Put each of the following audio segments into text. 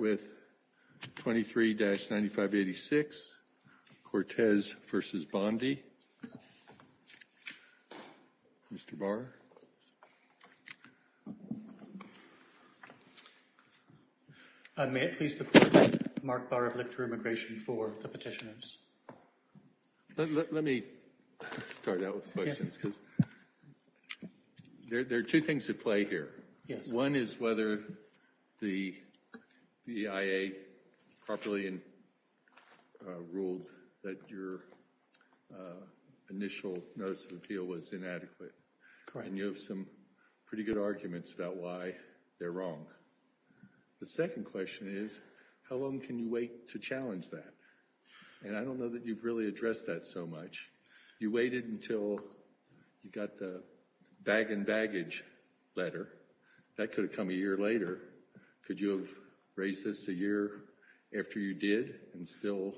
May it please the Court that Mark Barr of Lictor Immigration for the petitioners. Let me start out with the questions because there are two things at play here. One is whether the EIA properly and ruled that your initial notice of appeal was inadequate and you have some pretty good arguments about why they're wrong. The second question is how long can you wait to challenge that and I don't know that you've really addressed that so much. You waited until you got the bag and baggage letter. That could have come a year later. Could you have raised this a year after you did and still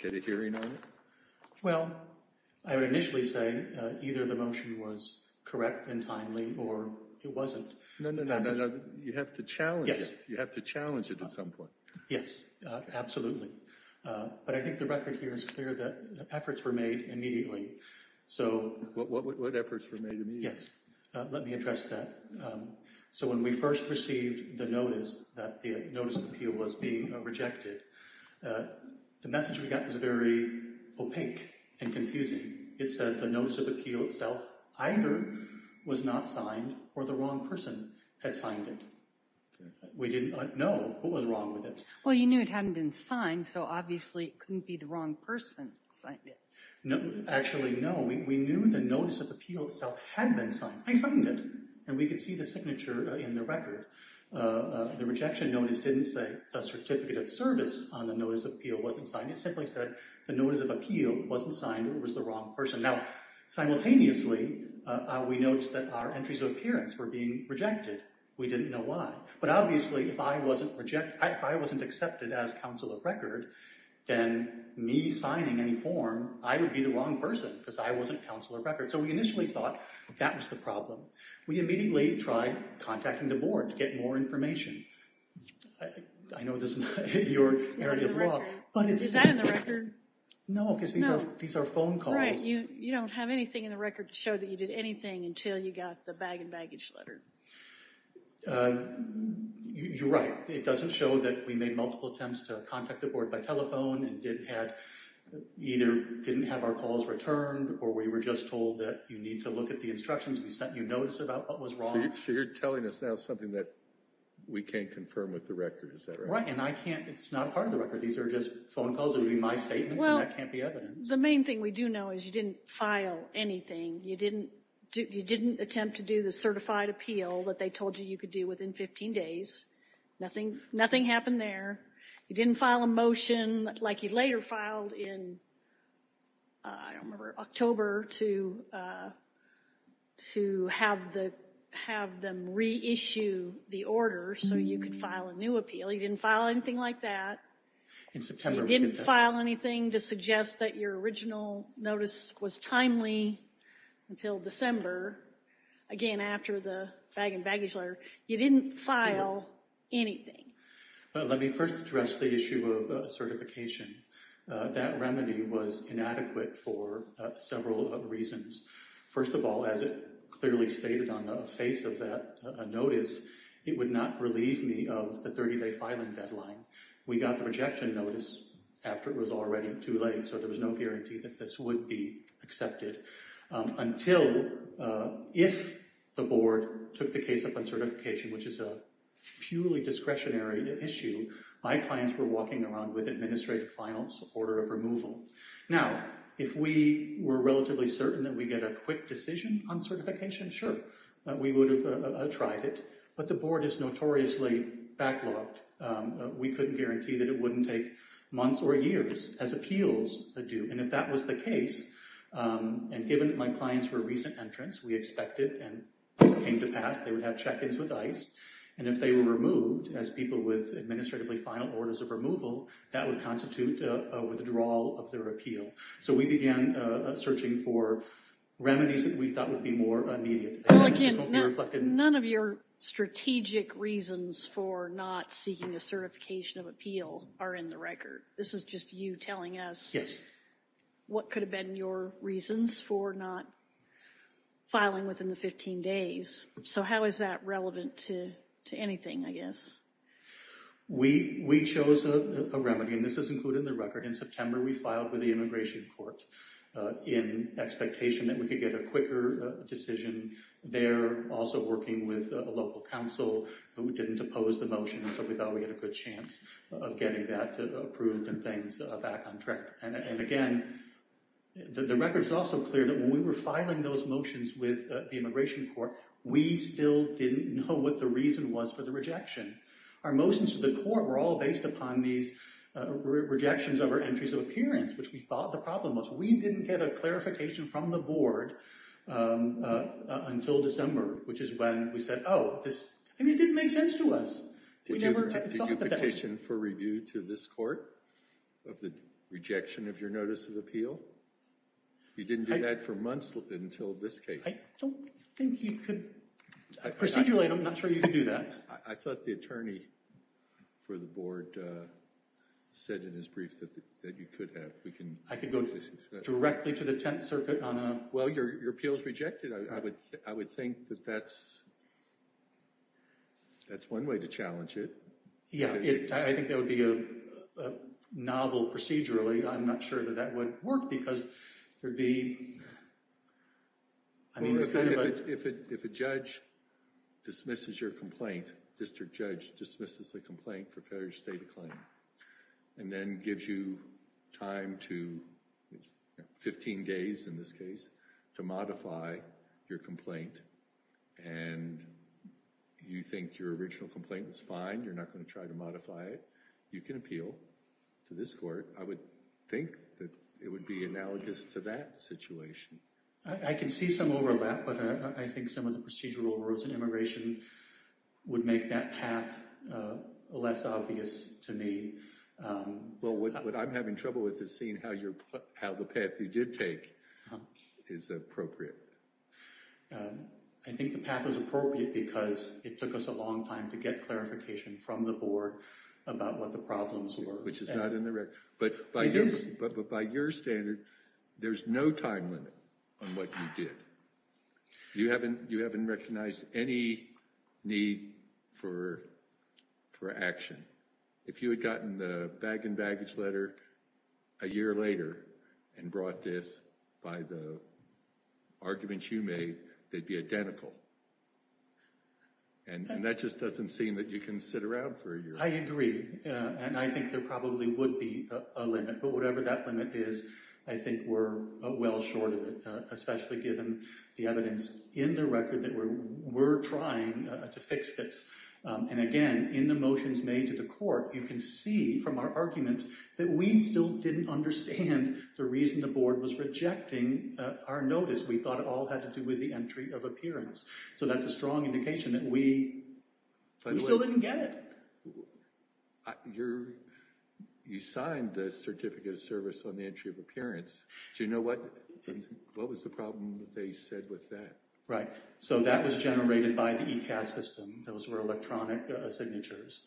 get a hearing on it? Well, I would initially say either the motion was correct and timely or it wasn't. No, no, no, no, no. You have to challenge it. You have to challenge it at some point. Yes, absolutely. But I think the record here is clear that efforts were made immediately. What efforts were made immediately? Yes, let me address that. So when we first received the notice that the notice of appeal was being rejected, the message we got was very opaque and confusing. It said the notice of appeal itself either was not signed or the wrong person had signed it. We didn't know what was wrong with it. Well, you knew it hadn't been signed so obviously it couldn't be the wrong person signed it. Actually, no. We knew the notice of appeal itself had been signed. I signed it and we could see the signature in the record. The rejection notice didn't say a certificate of service on the notice of appeal wasn't signed. It simply said the notice of appeal wasn't signed or was the wrong person. Now, simultaneously, we noticed that our entries of appearance were being rejected. We didn't know why. But obviously if I wasn't accepted as counsel of record, then me signing any form, I would be the wrong person because I wasn't counsel of record. So we initially thought that was the problem. We immediately tried contacting the board to get more information. I know this isn't your area of law. Is that in the record? No, because these are phone calls. Right. You don't have anything in the record to show that you did anything until you got the bag and baggage letter. You're right. It doesn't show that we made multiple attempts to contact the board by telephone and either didn't have our calls returned or we were just told that you need to look at the instructions. We sent you notes about what was wrong. So you're telling us now something that we can't confirm with the record, is that right? Right. And I can't. It's not part of the record. These are just phone calls. They would be my statements and that can't be evidence. Well, the main thing we do know is you didn't file anything. You didn't attempt to do the certified appeal that they told you you could do within 15 days. Nothing happened there. You didn't file a motion like you later filed in, I don't remember, October to have them reissue the order so you could file a new appeal. You didn't file anything like that. In September we did that. You didn't file anything to suggest that your original notice was timely until December. Again, after the bag and baggage letter. You didn't file anything. Let me first address the issue of certification. That remedy was inadequate for several reasons. First of all, as it clearly stated on the face of that notice, it would not relieve me of the 30-day filing deadline. We got the rejection notice after it was already too late, so there was no guarantee that this would be accepted. Until, if the board took the case up on certification, which is a purely discretionary issue, my clients were walking around with administrative final order of removal. Now, if we were relatively certain that we get a quick decision on certification, sure, we would have tried it. But the board is notoriously backlogged. We couldn't guarantee that it wouldn't take months or years as appeals do. And if that was the case, and given that my clients were recent entrants, we expected, and as it came to pass, they would have check-ins with ICE. And if they were removed as people with administratively final orders of removal, that would constitute a withdrawal of their appeal. So we began searching for remedies that we thought would be more immediate. None of your strategic reasons for not seeking a certification of appeal are in the record. This is just you telling us. Yes. What could have been your reasons for not filing within the 15 days? So how is that relevant to anything, I guess? We chose a remedy, and this is included in the record. In September, we filed with the Immigration Court in expectation that we could get a quicker decision there. Also working with a local council who didn't oppose the motion, so we thought we had a good chance of getting that approved and things back on track. And again, the record is also clear that when we were filing those motions with the Immigration Court, we still didn't know what the reason was for the rejection. Our motions to the court were all based upon these rejections of our entries of appearance, which we thought the problem was. We didn't get a clarification from the board until December, which is when we said, oh, this didn't make sense to us. Did you petition for review to this court of the rejection of your notice of appeal? You didn't do that for months until this case. I don't think you could. Procedurally, I'm not sure you could do that. I thought the attorney for the board said in his brief that you could have. I could go directly to the Tenth Circuit on a... Well, your appeal is rejected. I would think that that's one way to challenge it. Yeah, I think that would be a novel procedurally. I'm not sure that that would work because there'd be... If a judge dismisses your complaint, district judge dismisses the complaint for failure to state a claim and then gives you time to, 15 days in this case, to modify your complaint and you think your original complaint was fine, you're not going to try to modify it, you can appeal to this court. I would think that it would be analogous to that situation. I can see some overlap, but I think some of the procedural rules in immigration would make that path less obvious to me. Well, what I'm having trouble with is seeing how the path you did take is appropriate. I think the path was appropriate because it took us a long time to get clarification from the board about what the problems were. But by your standard, there's no time limit on what you did. You haven't recognized any need for action. If you had gotten the bag and baggage letter a year later and brought this by the arguments you made, they'd be identical. And that just doesn't seem that you can sit around for a year. I agree, and I think there probably would be a limit. But whatever that limit is, I think we're well short of it, especially given the evidence in the record that we're trying to fix this. And again, in the motions made to the court, you can see from our arguments that we still didn't understand the reason the board was rejecting our notice. We thought it all had to do with the entry of appearance. So that's a strong indication that we still didn't get it. You signed the certificate of service on the entry of appearance. Do you know what was the problem they said with that? Right, so that was generated by the ECAS system. Those were electronic signatures.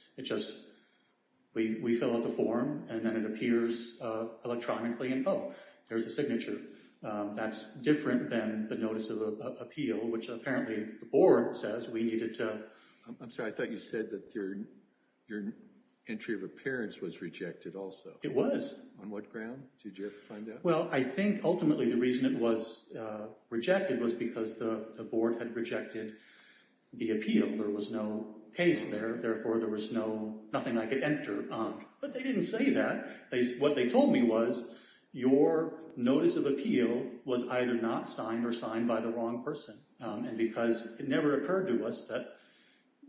We fill out the form, and then it appears electronically, and oh, there's a signature. That's different than the notice of appeal, which apparently the board says we needed to... I'm sorry, I thought you said that your entry of appearance was rejected also. It was. On what ground? Did you ever find out? Well, I think ultimately the reason it was rejected was because the board had rejected the appeal. There was no case there, therefore there was nothing I could enter on. But they didn't say that. What they told me was your notice of appeal was either not signed or signed by the wrong person, and because it never occurred to us that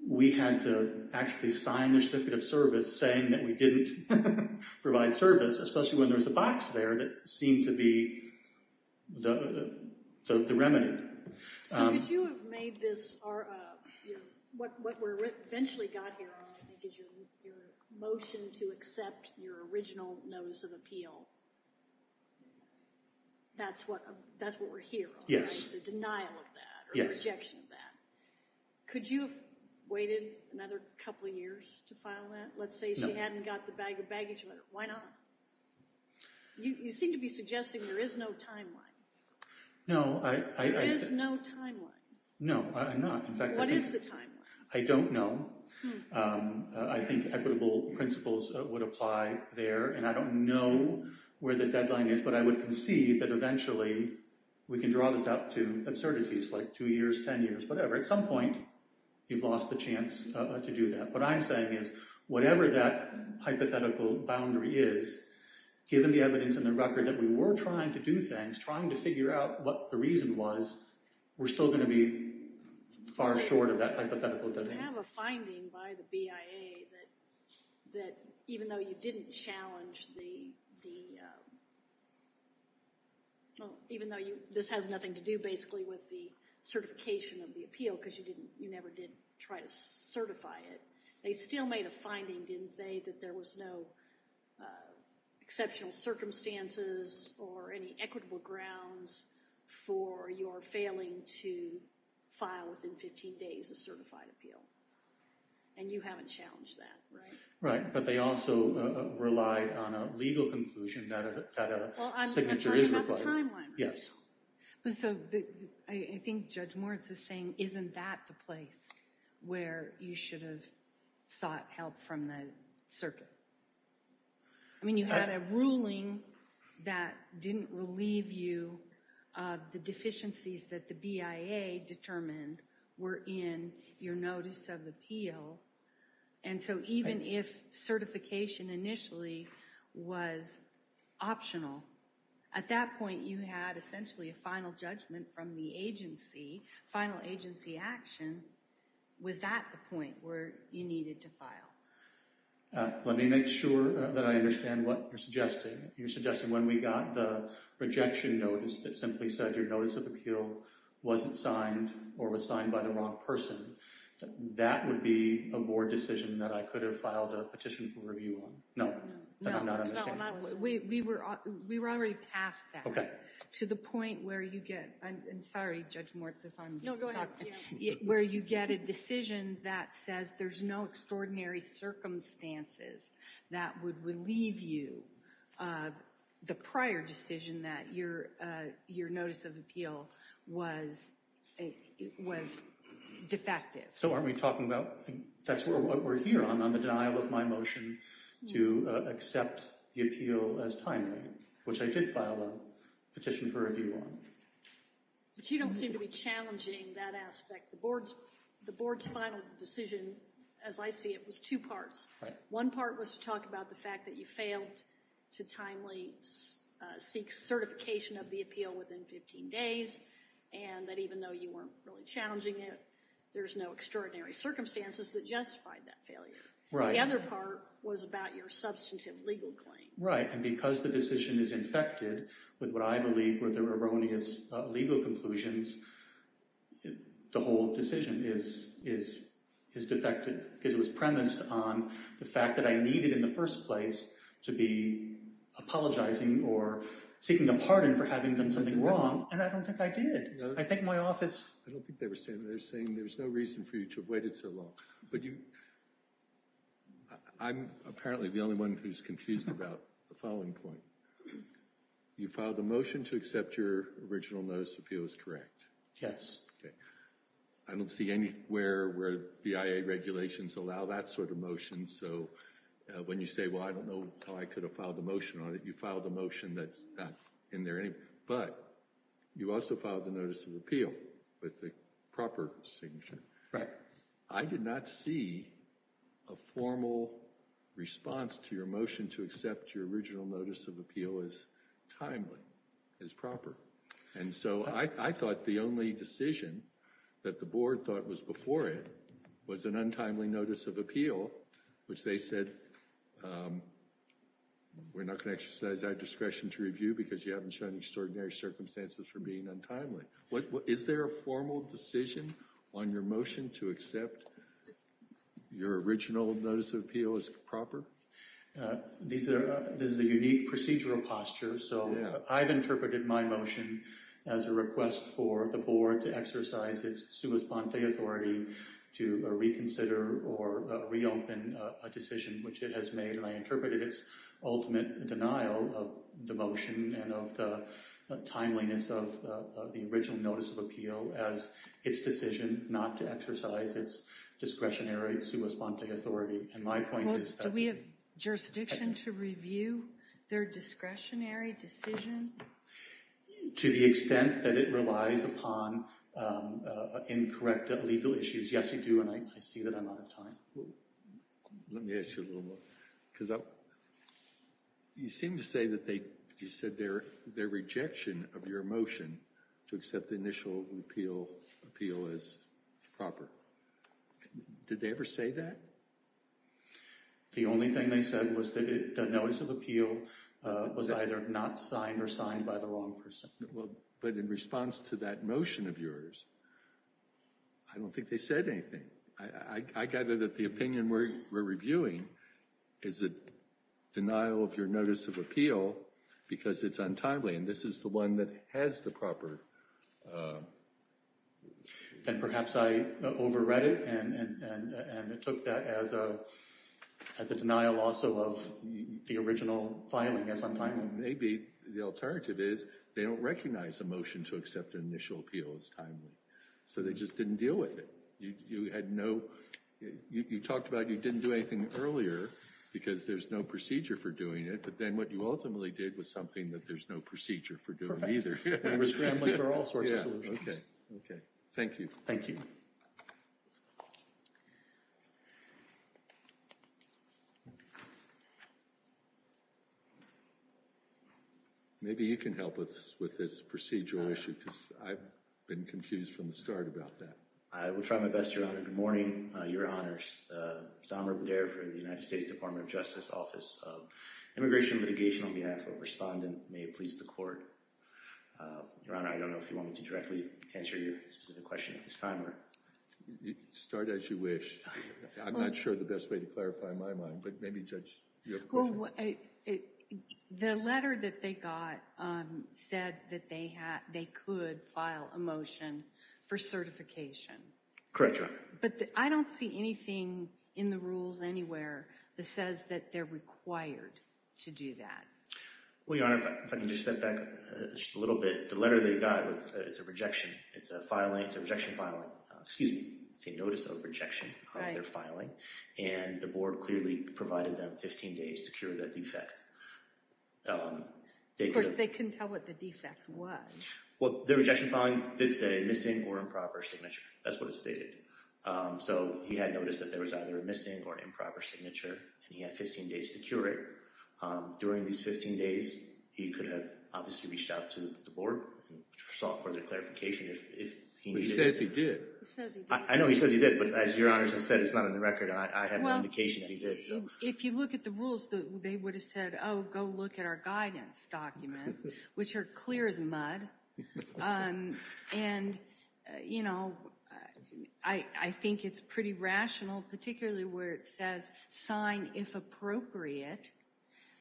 we had to actually sign the certificate of service saying that we didn't provide service, especially when there was a box there that seemed to be the remedy. So could you have made this... What we eventually got here on, I think, is your motion to accept your original notice of appeal. That's what we're here on, right? The denial of that or the rejection of that. Could you have waited another couple of years to file that? Let's say she hadn't got the baggage letter. Why not? You seem to be suggesting there is no timeline. No, I... There is no timeline. No, I'm not. What is the timeline? I don't know. I think equitable principles would apply there, and I don't know where the deadline is, but I would concede that eventually we can draw this out to absurdities like two years, ten years, whatever. At some point, you've lost the chance to do that. What I'm saying is whatever that hypothetical boundary is, given the evidence and the record that we were trying to do things, trying to figure out what the reason was, we're still going to be far short of that hypothetical domain. Do you have a finding by the BIA that even though you didn't challenge the... Even though this has nothing to do, basically, with the certification of the appeal because you never did try to certify it, they still made a finding, didn't they, that there was no exceptional circumstances or any equitable grounds for your failing to file within 15 days a certified appeal? And you haven't challenged that, right? Right, but they also relied on a legal conclusion that a signature is required. Well, I'm talking about the timeline. Yes. I think Judge Moritz is saying, isn't that the place where you should have sought help from the circuit? I mean, you had a ruling that didn't relieve you of the deficiencies that the BIA determined were in your notice of appeal. And so even if certification initially was optional, at that point you had essentially a final judgment from the agency, final agency action. Was that the point where you needed to file? Let me make sure that I understand what you're suggesting. You're suggesting when we got the rejection notice that simply said your notice of appeal wasn't signed or was signed by the wrong person. That would be a board decision that I could have filed a petition for review on. No, I'm not understanding this. We were already past that. To the point where you get—I'm sorry, Judge Moritz, if I'm— Where you get a decision that says there's no extraordinary circumstances that would relieve you of the prior decision that your notice of appeal was defective. So aren't we talking about—that's what we're here on, on the denial of my motion to accept the appeal as timely, which I did file a petition for review on. But you don't seem to be challenging that aspect. The board's final decision, as I see it, was two parts. One part was to talk about the fact that you failed to timely seek certification of the appeal within 15 days, and that even though you weren't really challenging it, there's no extraordinary circumstances that justified that failure. The other part was about your substantive legal claim. Right, and because the decision is infected with what I believe were the erroneous legal conclusions, the whole decision is defective because it was premised on the fact that I needed in the first place to be apologizing or seeking a pardon for having done something wrong, and I don't think I did. I think my office— I don't think they were saying that. They were saying there was no reason for you to have waited so long. I'm apparently the only one who's confused about the following point. You filed a motion to accept your original notice of appeal is correct? Yes. Okay. I don't see anywhere where the IA regulations allow that sort of motion, so when you say, well, I don't know how I could have filed a motion on it, you filed a motion that's not in there anyway. But you also filed the notice of appeal with the proper signature. I did not see a formal response to your motion to accept your original notice of appeal as timely, as proper. And so I thought the only decision that the board thought was before it was an untimely notice of appeal, which they said we're not going to exercise our discretion to review because you haven't shown extraordinary circumstances for being untimely. Is there a formal decision on your motion to accept your original notice of appeal as proper? This is a unique procedural posture, so I've interpreted my motion as a request for the board to exercise its sua sponte authority to reconsider or reopen a decision which it has made, and I interpreted its ultimate denial of the motion and of the timeliness of the original notice of appeal as its decision not to exercise its discretionary sua sponte authority. And my point is that— Do we have jurisdiction to review their discretionary decision? To the extent that it relies upon incorrect legal issues, yes, you do, and I see that I'm out of time. Let me ask you a little more, because you seem to say that they— you said their rejection of your motion to accept the initial appeal as proper. Did they ever say that? The only thing they said was that the notice of appeal was either not signed or signed by the wrong person. But in response to that motion of yours, I don't think they said anything. I gather that the opinion we're reviewing is a denial of your notice of appeal because it's untimely, and this is the one that has the proper— Then perhaps I overread it and took that as a denial also of the original filing as untimely. Maybe the alternative is they don't recognize the motion to accept the initial appeal as timely, so they just didn't deal with it. You had no—you talked about you didn't do anything earlier because there's no procedure for doing it, but then what you ultimately did was something that there's no procedure for doing either. And we're scrambling for all sorts of solutions. Thank you. Thank you. Maybe you can help us with this procedural issue because I've been confused from the start about that. I will try my best, Your Honor. Good morning, Your Honors. Samer Bader from the United States Department of Justice Office of Immigration and Litigation on behalf of a respondent. May it please the Court. Your Honor, I don't know if you want me to directly answer your specific question at this time or— Start as you wish. I'm not sure the best way to clarify my mind, but maybe, Judge, you have a question? Well, the letter that they got said that they could file a motion for certification. Correct, Your Honor. But I don't see anything in the rules anywhere that says that they're required to do that. Well, Your Honor, if I can just step back just a little bit. The letter they got was a rejection. It's a filing. It's a rejection filing. Excuse me. It's a notice of rejection of their filing. And the board clearly provided them 15 days to cure that defect. Of course, they couldn't tell what the defect was. Well, the rejection filing did say missing or improper signature. That's what it stated. So he had noticed that there was either a missing or improper signature, and he had 15 days to cure it. During these 15 days, he could have obviously reached out to the board and sought further clarification if he needed it. But he says he did. He says he did. I know he says he did, but as Your Honor just said, it's not in the record, and I have no indication that he did. If you look at the rules, they would have said, oh, go look at our guidance documents, which are clear as mud. And, you know, I think it's pretty rational, particularly where it says sign if appropriate,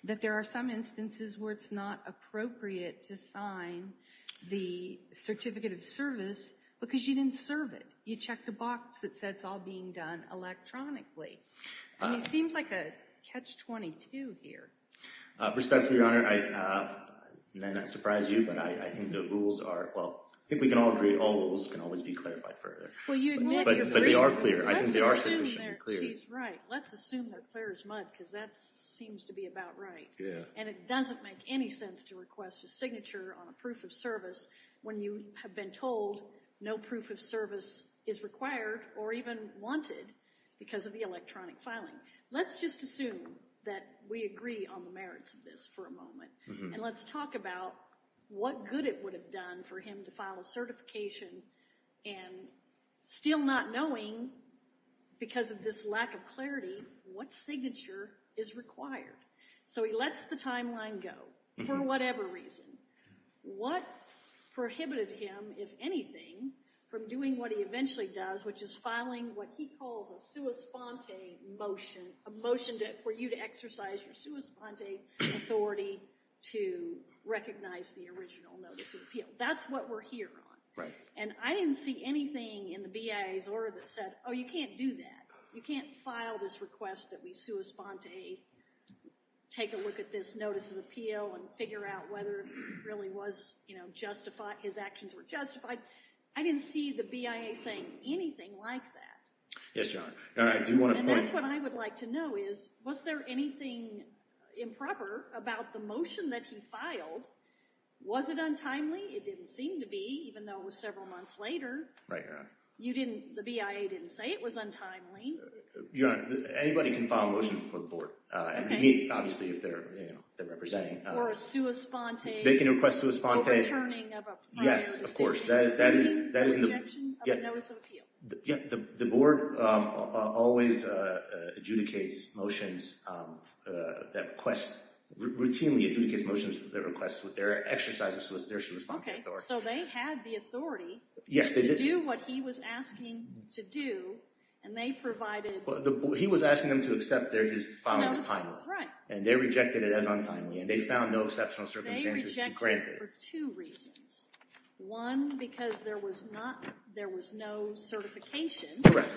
that there are some instances where it's not appropriate to sign the certificate of service because you didn't serve it. You checked a box that said it's all being done electronically. It seems like a catch-22 here. Respectfully, Your Honor, may I not surprise you, but I think the rules are, well, I think we can all agree all rules can always be clarified further. But they are clear. I think they are significantly clear. She's right. Let's assume they're clear as mud because that seems to be about right. And it doesn't make any sense to request a signature on a proof of service when you have been told no proof of service is required or even wanted because of the electronic filing. Let's just assume that we agree on the merits of this for a moment. And let's talk about what good it would have done for him to file a certification and still not knowing because of this lack of clarity what signature is required. So he lets the timeline go for whatever reason. What prohibited him, if anything, from doing what he eventually does, which is filing what he calls a sua sponte motion, a motion for you to exercise your sua sponte authority to recognize the original notice of appeal. That's what we're here on. Right. And I didn't see anything in the BIA's order that said, oh, you can't do that. You can't file this request that we sua sponte, take a look at this notice of appeal, and figure out whether it really was justified, his actions were justified. I didn't see the BIA saying anything like that. Yes, Your Honor. And that's what I would like to know is, was there anything improper about the motion that he filed? Was it untimely? It didn't seem to be, even though it was several months later. Right, Your Honor. You didn't, the BIA didn't say it was untimely? Your Honor, anybody can file a motion before the board. Okay. And meet, obviously, if they're representing. Or a sua sponte. They can request sua sponte. Or a returning of a prior decision. Yes, of course. A rejection of a notice of appeal. Yeah, the board always adjudicates motions that request, routinely adjudicates motions that request with their exercise of their sua sponte authority. Okay, so they had the authority. Yes, they did. To do what he was asking to do, and they provided. He was asking them to accept that his file was timely. Right. And they rejected it as untimely, and they found no exceptional circumstances to grant it. They rejected it for two reasons. One, because there was not, there was no certification. Correct.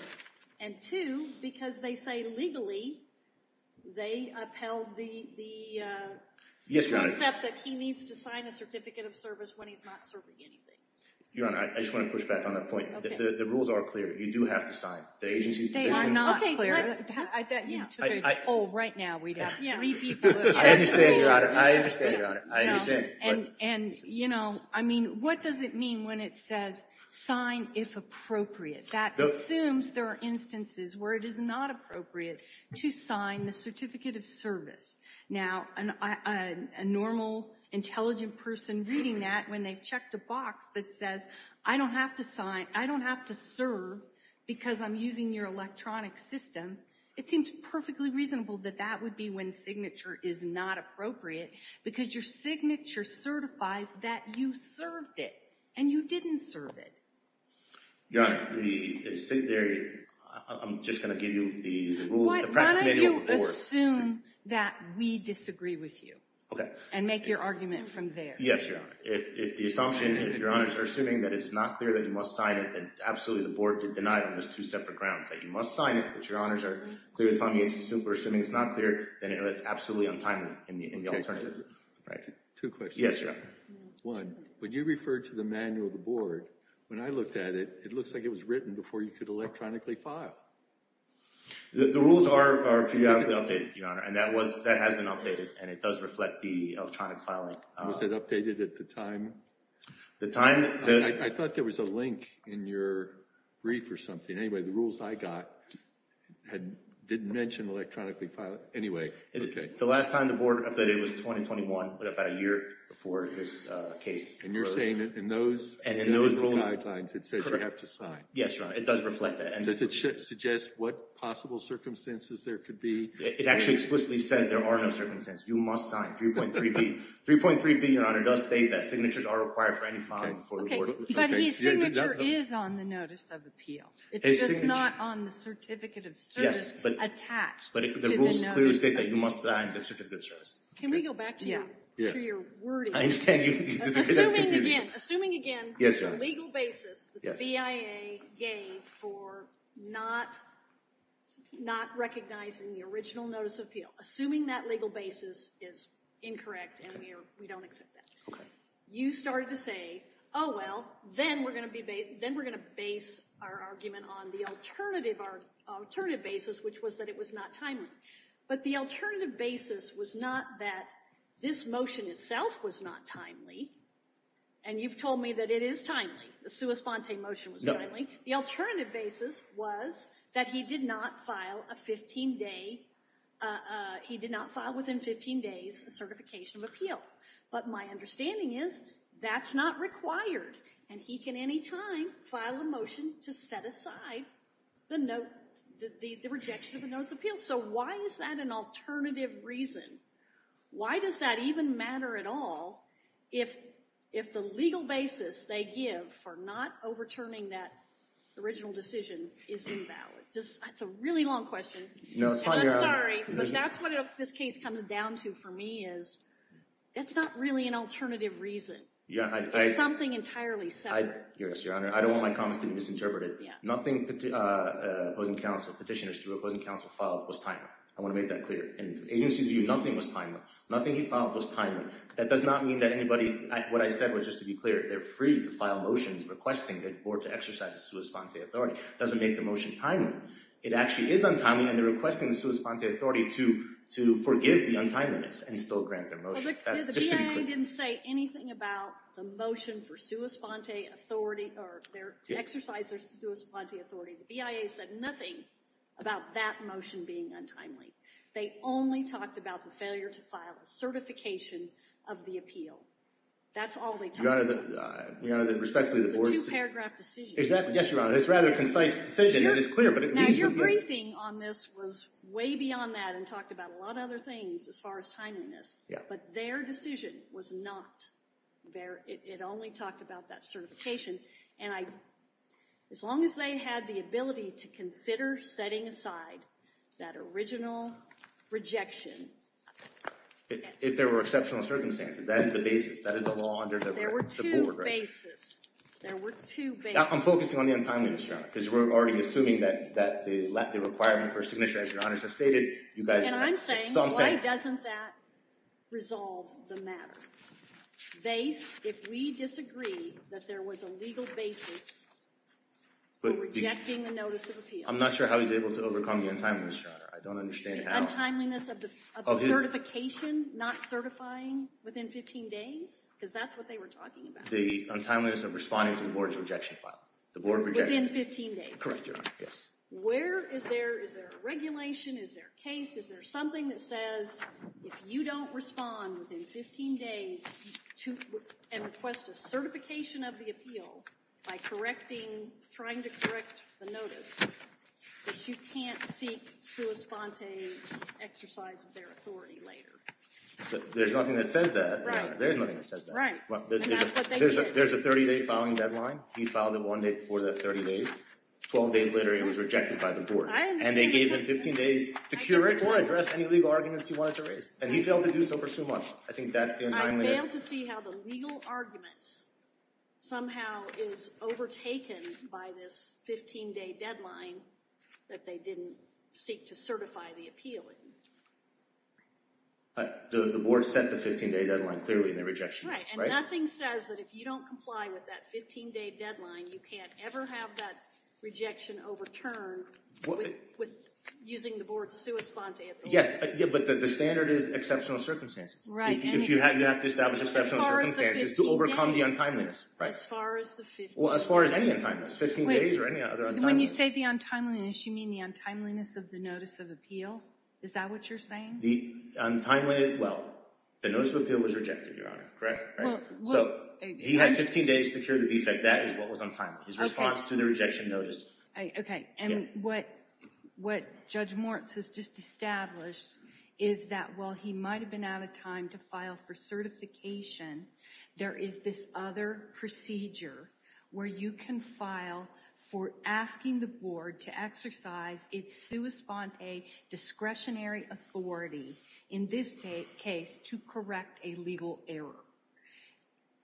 And two, because they say, legally, they upheld the. Yes, Your Honor. They accept that he needs to sign a certificate of service when he's not serving anything. Your Honor, I just want to push back on that point. Okay. The rules are clear. You do have to sign. The agency's position. They are not clear. I bet you two or three. Oh, right now we have three people. I understand, Your Honor. I understand, Your Honor. I understand. And, you know, I mean, what does it mean when it says, sign if appropriate? That assumes there are instances where it is not appropriate to sign the certificate of service. Now, a normal, intelligent person reading that when they've checked a box that says, I don't have to sign, I don't have to serve because I'm using your electronic system, it seems perfectly reasonable that that would be when signature is not appropriate because your signature certifies that you served it, and you didn't serve it. Your Honor, the, I'm just going to give you the rules. Why don't you assume that we disagree with you? Okay. And make your argument from there. Yes, Your Honor. If the assumption, if Your Honors are assuming that it is not clear that you must sign it, then absolutely the Board did deny it on those two separate grounds, that you must sign it, but Your Honors are clear to tell me it's, we're assuming it's not clear, then it's absolutely untimely in the alternative. Two questions. Yes, Your Honor. One, when you referred to the manual of the Board, when I looked at it, it looks like it was written before you could electronically file. The rules are periodically updated, Your Honor, and that was, that has been updated, and it does reflect the electronic filing. Was it updated at the time? The time that… I thought there was a link in your brief or something. Anyway, the rules I got didn't mention electronically filing. Anyway, okay. The last time the Board updated was 2021, about a year before this case arose. And you're saying that in those rules and guidelines it says you have to sign. Yes, Your Honor, it does reflect that. Does it suggest what possible circumstances there could be? It actually explicitly says there are no circumstances. You must sign 3.3B. 3.3B, Your Honor, does state that signatures are required for any filing before the Board. Okay, but his signature is on the Notice of Appeal. It's just not on the Certificate of Service attached to the Notice of Appeal. Yes, but the rules clearly state that you must sign the Certificate of Service. Can we go back to your wording? I understand you disagree, that's confusing. Again, assuming, again, the legal basis that the BIA gave for not recognizing the original Notice of Appeal. Assuming that legal basis is incorrect and we don't accept that. Okay. You started to say, oh, well, then we're going to base our argument on the alternative basis, which was that it was not timely. But the alternative basis was not that this motion itself was not timely, and you've told me that it is timely. The sua sponte motion was timely. The alternative basis was that he did not file within 15 days a Certification of Appeal. But my understanding is that's not required, and he can any time file a motion to set aside the rejection of the Notice of Appeal. So why is that an alternative reason? Why does that even matter at all if the legal basis they give for not overturning that original decision is invalid? That's a really long question. No, it's fine, Your Honor. And I'm sorry, but that's what this case comes down to for me is it's not really an alternative reason. It's something entirely separate. Yes, Your Honor. I don't want my comments to be misinterpreted. Nothing petitioners to opposing counsel filed was timely. I want to make that clear. In the agency's view, nothing was timely. Nothing he filed was timely. That does not mean that anybody, what I said was just to be clear, they're free to file motions requesting the Board to exercise the sua sponte authority. It doesn't make the motion timely. It actually is untimely, and they're requesting the sua sponte authority to forgive the untimeliness and still grant their motion. Well, the BIA didn't say anything about the motion for sua sponte authority or to exercise their sua sponte authority. The BIA said nothing about that motion being untimely. They only talked about the failure to file a certification of the appeal. That's all they talked about. Your Honor, respectfully, the Board's— It's a two-paragraph decision. Yes, Your Honor. It's a rather concise decision. It is clear, but at least— Now, your briefing on this was way beyond that and talked about a lot of other things as far as timeliness. Yeah. But their decision was not. It only talked about that certification, and as long as they had the ability to consider setting aside that original rejection— If there were exceptional circumstances. That is the basis. That is the law under the Board of Regents. There were two bases. There were two bases. I'm focusing on the untimeliness, Your Honor, because we're already assuming that the requirement for submission, as Your Honors have stated, you guys— And I'm saying, why doesn't that resolve the matter? If we disagree that there was a legal basis for rejecting the notice of appeal— I'm not sure how he's able to overcome the untimeliness, Your Honor. I don't understand how— The untimeliness of the certification not certifying within 15 days? Because that's what they were talking about. The untimeliness of responding to the Board's rejection file. The Board rejected— Within 15 days. Correct, Your Honor. Yes. Where is there—is there a regulation? Is there a case? Is there something that says if you don't respond within 15 days and request a certification of the appeal by correcting—trying to correct the notice, that you can't seek sua sponte exercise of their authority later? There's nothing that says that, Your Honor. Right. There's nothing that says that. Right. And that's what they did. There's a 30-day filing deadline. He filed it one day before the 30 days. Twelve days later, it was rejected by the Board. And they gave him 15 days to curate or address any legal arguments he wanted to raise. And he failed to do so for two months. I think that's the untimeliness— I failed to see how the legal argument somehow is overtaken by this 15-day deadline that they didn't seek to certify the appeal in. The Board set the 15-day deadline clearly in the rejection. Right. And nothing says that if you don't comply with that 15-day deadline, you can't ever have that rejection overturned with using the Board's sua sponte authority. Yes, but the standard is exceptional circumstances. Right. If you have to establish exceptional circumstances to overcome the untimeliness. As far as the 15 days. As far as the 15 days. Well, as far as any untimeliness. 15 days or any other untimeliness. When you say the untimeliness, you mean the untimeliness of the notice of appeal? Is that what you're saying? The untimeliness—well, the notice of appeal was rejected, Your Honor. Correct? So, he had 15 days to cure the defect. That is what was untimely. His response to the rejection notice. Okay. And what Judge Moritz has just established is that while he might have been out of time to file for certification, there is this other procedure where you can file for asking the Board to exercise its sua sponte discretionary authority, in this case, to correct a legal error.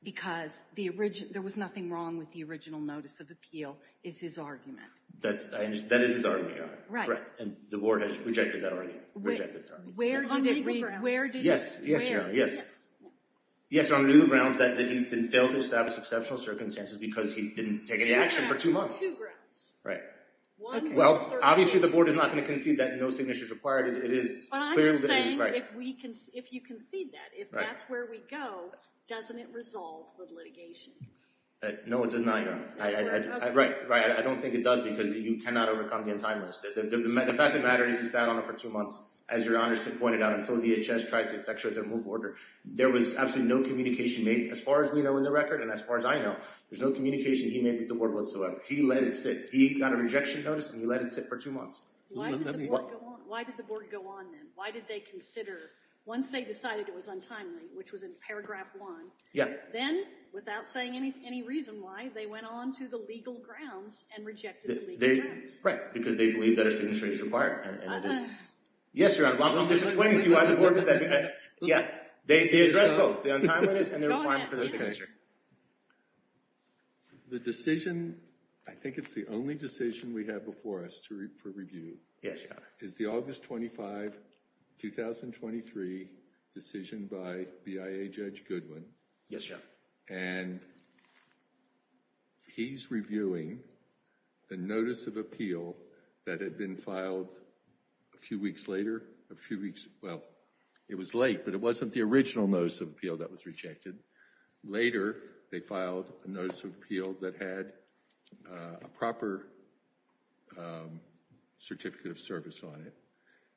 Because there was nothing wrong with the original notice of appeal, is his argument. That is his argument, Your Honor. Right. And the Board has rejected that argument. Where did it— It's on legal grounds. Yes, Your Honor. Yes. Yes, on legal grounds that he failed to establish exceptional circumstances because he didn't take any action for two months. Two grounds. Right. Well, obviously, the Board is not going to concede that no signature is required. It is clearly— But I'm just saying if you concede that, if that's where we go, doesn't it resolve the litigation? No, it does not, Your Honor. Right. Right. I don't think it does because you cannot overcome the untimeliness. The fact of the matter is he sat on it for two months, as Your Honor pointed out, until DHS tried to effectuate their move order. There was absolutely no communication made, as far as we know in the record and as far as I know. There's no communication he made with the Board whatsoever. He let it sit. He got a rejection notice, and he let it sit for two months. Why did the Board go on then? Why did they consider, once they decided it was untimely, which was in paragraph one— Yeah. Then, without saying any reason why, they went on to the legal grounds and rejected the legal grounds. Right. Because they believe that a signature is required. Yes, Your Honor. I'm just explaining to you why the Board did that. Yeah. They addressed both the untimeliness and the requirement for the signature. Go ahead. The decision—I think it's the only decision we have before us for review— Yes, Your Honor. —is the August 25, 2023 decision by BIA Judge Goodwin. Yes, Your Honor. And he's reviewing the Notice of Appeal that had been filed a few weeks later. A few weeks—well, it was late, but it wasn't the original Notice of Appeal that was rejected. Later, they filed a Notice of Appeal that had a proper Certificate of Service on it,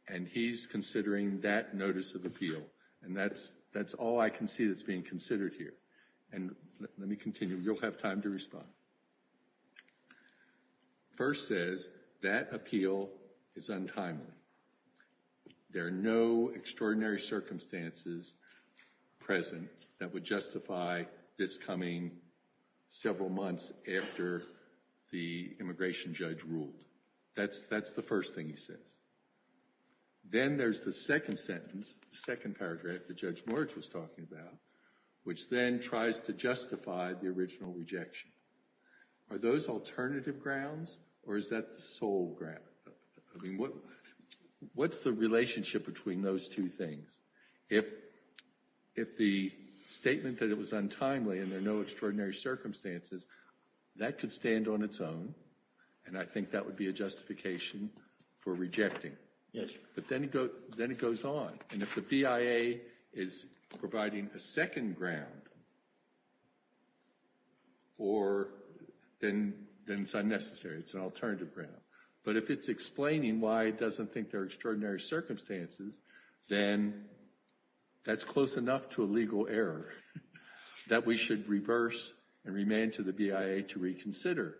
and he's considering that Notice of Appeal. And that's all I can see that's being considered here. And let me continue. You'll have time to respond. First says, that appeal is untimely. There are no extraordinary circumstances present that would justify this coming several months after the immigration judge ruled. That's the first thing he says. Then there's the second sentence, the second paragraph that Judge Moritz was talking about, which then tries to justify the original rejection. Are those alternative grounds, or is that the sole ground? I mean, what's the relationship between those two things? If the statement that it was untimely and there are no extraordinary circumstances, that could stand on its own, and I think that would be a justification for rejecting. Yes. But then it goes on. And if the BIA is providing a second ground, then it's unnecessary. It's an alternative ground. But if it's explaining why it doesn't think there are extraordinary circumstances, then that's close enough to a legal error that we should reverse and remain to the BIA to reconsider.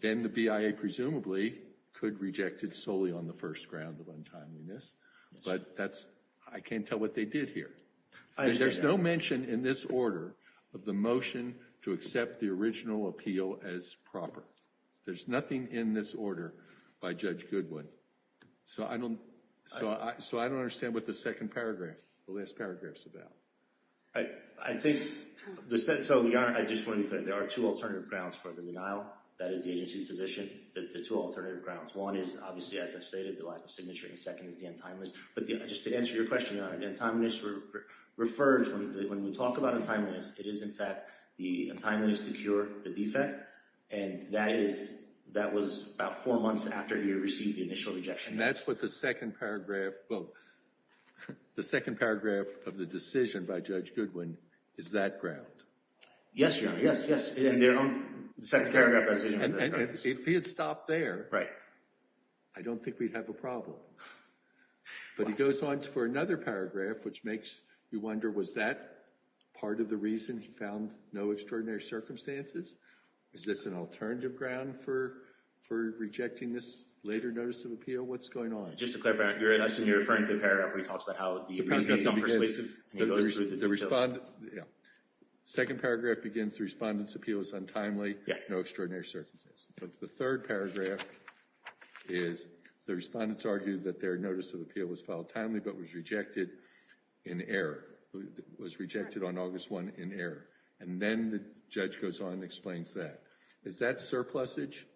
Then the BIA presumably could reject it solely on the first ground of untimeliness, but I can't tell what they did here. There's no mention in this order of the motion to accept the original appeal as proper. There's nothing in this order by Judge Goodwin. So I don't understand what the second paragraph, the last paragraph is about. I think, so Your Honor, I just wanted to put it. There are two alternative grounds for the denial. That is the agency's position, the two alternative grounds. One is obviously, as I've stated, the lack of signature, and the second is the untimeliness. But just to answer your question, Your Honor, the untimeliness refers, when we talk about untimeliness, it is in fact the untimeliness to cure the defect, and that was about four months after he received the initial rejection. And that's what the second paragraph, well, the second paragraph of the decision by Judge Goodwin is that ground. Yes, Your Honor, yes, yes. The second paragraph of that decision was that ground. And if he had stopped there, I don't think we'd have a problem. But he goes on for another paragraph, which makes you wonder, was that part of the reason he found no extraordinary circumstances? Is this an alternative ground for rejecting this later notice of appeal? What's going on? Just to clarify, you're referring to the paragraph where he talks about how the agency is unpersuasive, and he goes through the details. The second paragraph begins, the respondent's appeal is untimely, no extraordinary circumstances. The third paragraph is the respondent's argued that their notice of appeal was filed timely but was rejected in error, was rejected on August 1 in error. And then the judge goes on and explains that. Is that surplusage?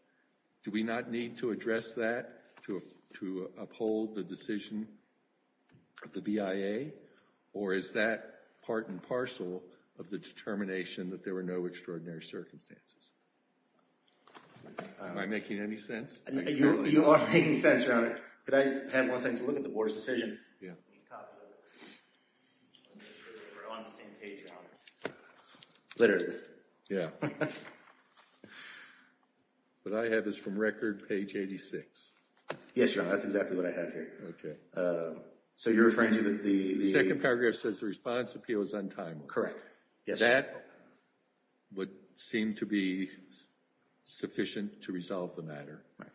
Do we not need to address that to uphold the decision of the BIA? Or is that part and parcel of the determination that there were no extraordinary circumstances? Am I making any sense? You are making sense, Your Honor. Could I have one second to look at the board's decision? We're on the same page, Your Honor. Literally. Yeah. What I have is from record, page 86. Yes, Your Honor, that's exactly what I have here. Okay. So you're referring to the... The second paragraph says the respondent's appeal is untimely. Yes, Your Honor. That would seem to be sufficient to resolve the matter. Right.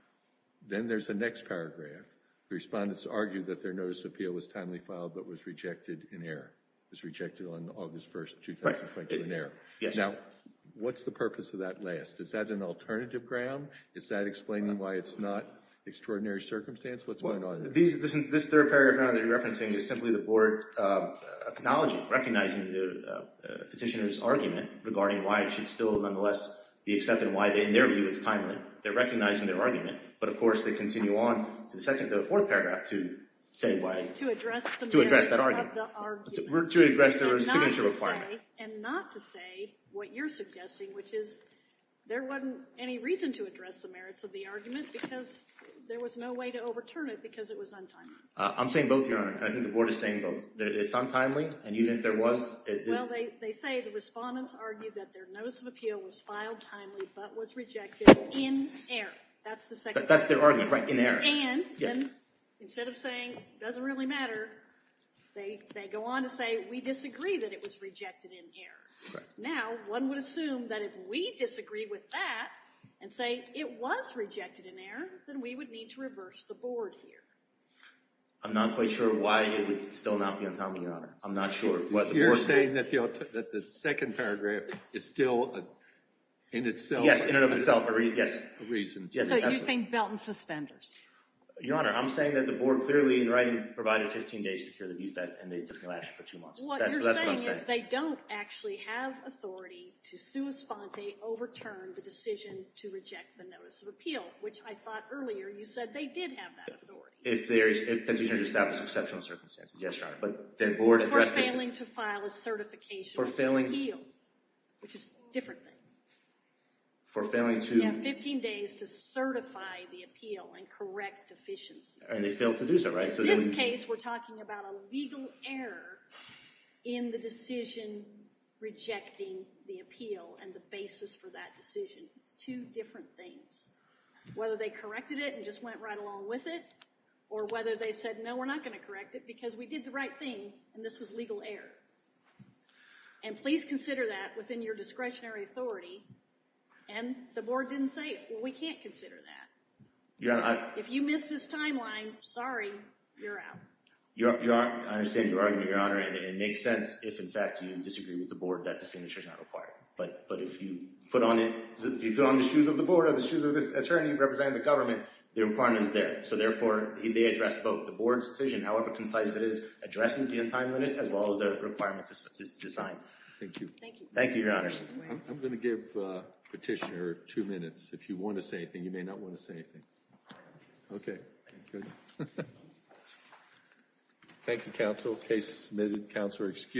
Then there's the next paragraph. The respondent's argued that their notice of appeal was timely filed but was rejected in error. It was rejected on August 1, 2020, in error. Yes, Your Honor. Now, what's the purpose of that last? Is that an alternative ground? Is that explaining why it's not extraordinary circumstance? What's going on? This third paragraph, Your Honor, that you're referencing is simply the board acknowledging, recognizing the petitioner's argument regarding why it should still nonetheless be accepted and why, in their view, it's timely. They're recognizing their argument. But, of course, they continue on to the fourth paragraph to say why... To address the merits of the argument. To address their signature requirement. And not to say what you're suggesting, which is there wasn't any reason to address the merits of the argument because there was no way to overturn it because it was untimely. I'm saying both, Your Honor. I think the board is saying both. It's untimely. And even if there was, it didn't. Well, they say the respondent's argued that their notice of appeal was filed timely but was rejected in error. That's the second part. That's their argument, right? In error. And instead of saying it doesn't really matter, they go on to say we disagree that it was rejected in error. Now, one would assume that if we disagree with that and say it was rejected in error, then we would need to reverse the board here. I'm not quite sure why it would still not be untimely, Your Honor. I'm not sure. You're saying that the second paragraph is still in itself... Yes, in and of itself. Yes. So you think belt and suspenders? Your Honor, I'm saying that the board clearly in writing provided 15 days to cure the defect and they took no action for two months. That's what I'm saying. Because they don't actually have authority to sua sponte overturn the decision to reject the notice of appeal, which I thought earlier you said they did have that authority. If Petitioners established exceptional circumstances. Yes, Your Honor. But their board addressed this... For failing to file a certification of appeal, which is a different thing. For failing to... Yeah, 15 days to certify the appeal and correct deficiencies. And they failed to do so, right? But in this case, we're talking about a legal error in the decision rejecting the appeal and the basis for that decision. It's two different things. Whether they corrected it and just went right along with it, or whether they said, no, we're not going to correct it because we did the right thing and this was legal error. And please consider that within your discretionary authority. And the board didn't say, well, we can't consider that. If you miss this timeline, sorry, you're out. I understand your argument, Your Honor. And it makes sense if, in fact, you disagree with the board that the signature is not required. But if you put on the shoes of the board or the shoes of this attorney representing the government, the requirement is there. So, therefore, they addressed both the board's decision, however concise it is, addressing the untimeliness as well as the requirement to sign. Thank you. Thank you, Your Honor. I'm going to give Petitioner two minutes. If you want to say anything, you may not want to say anything. Okay. Good. Thank you, counsel. Case submitted. Counselor excused.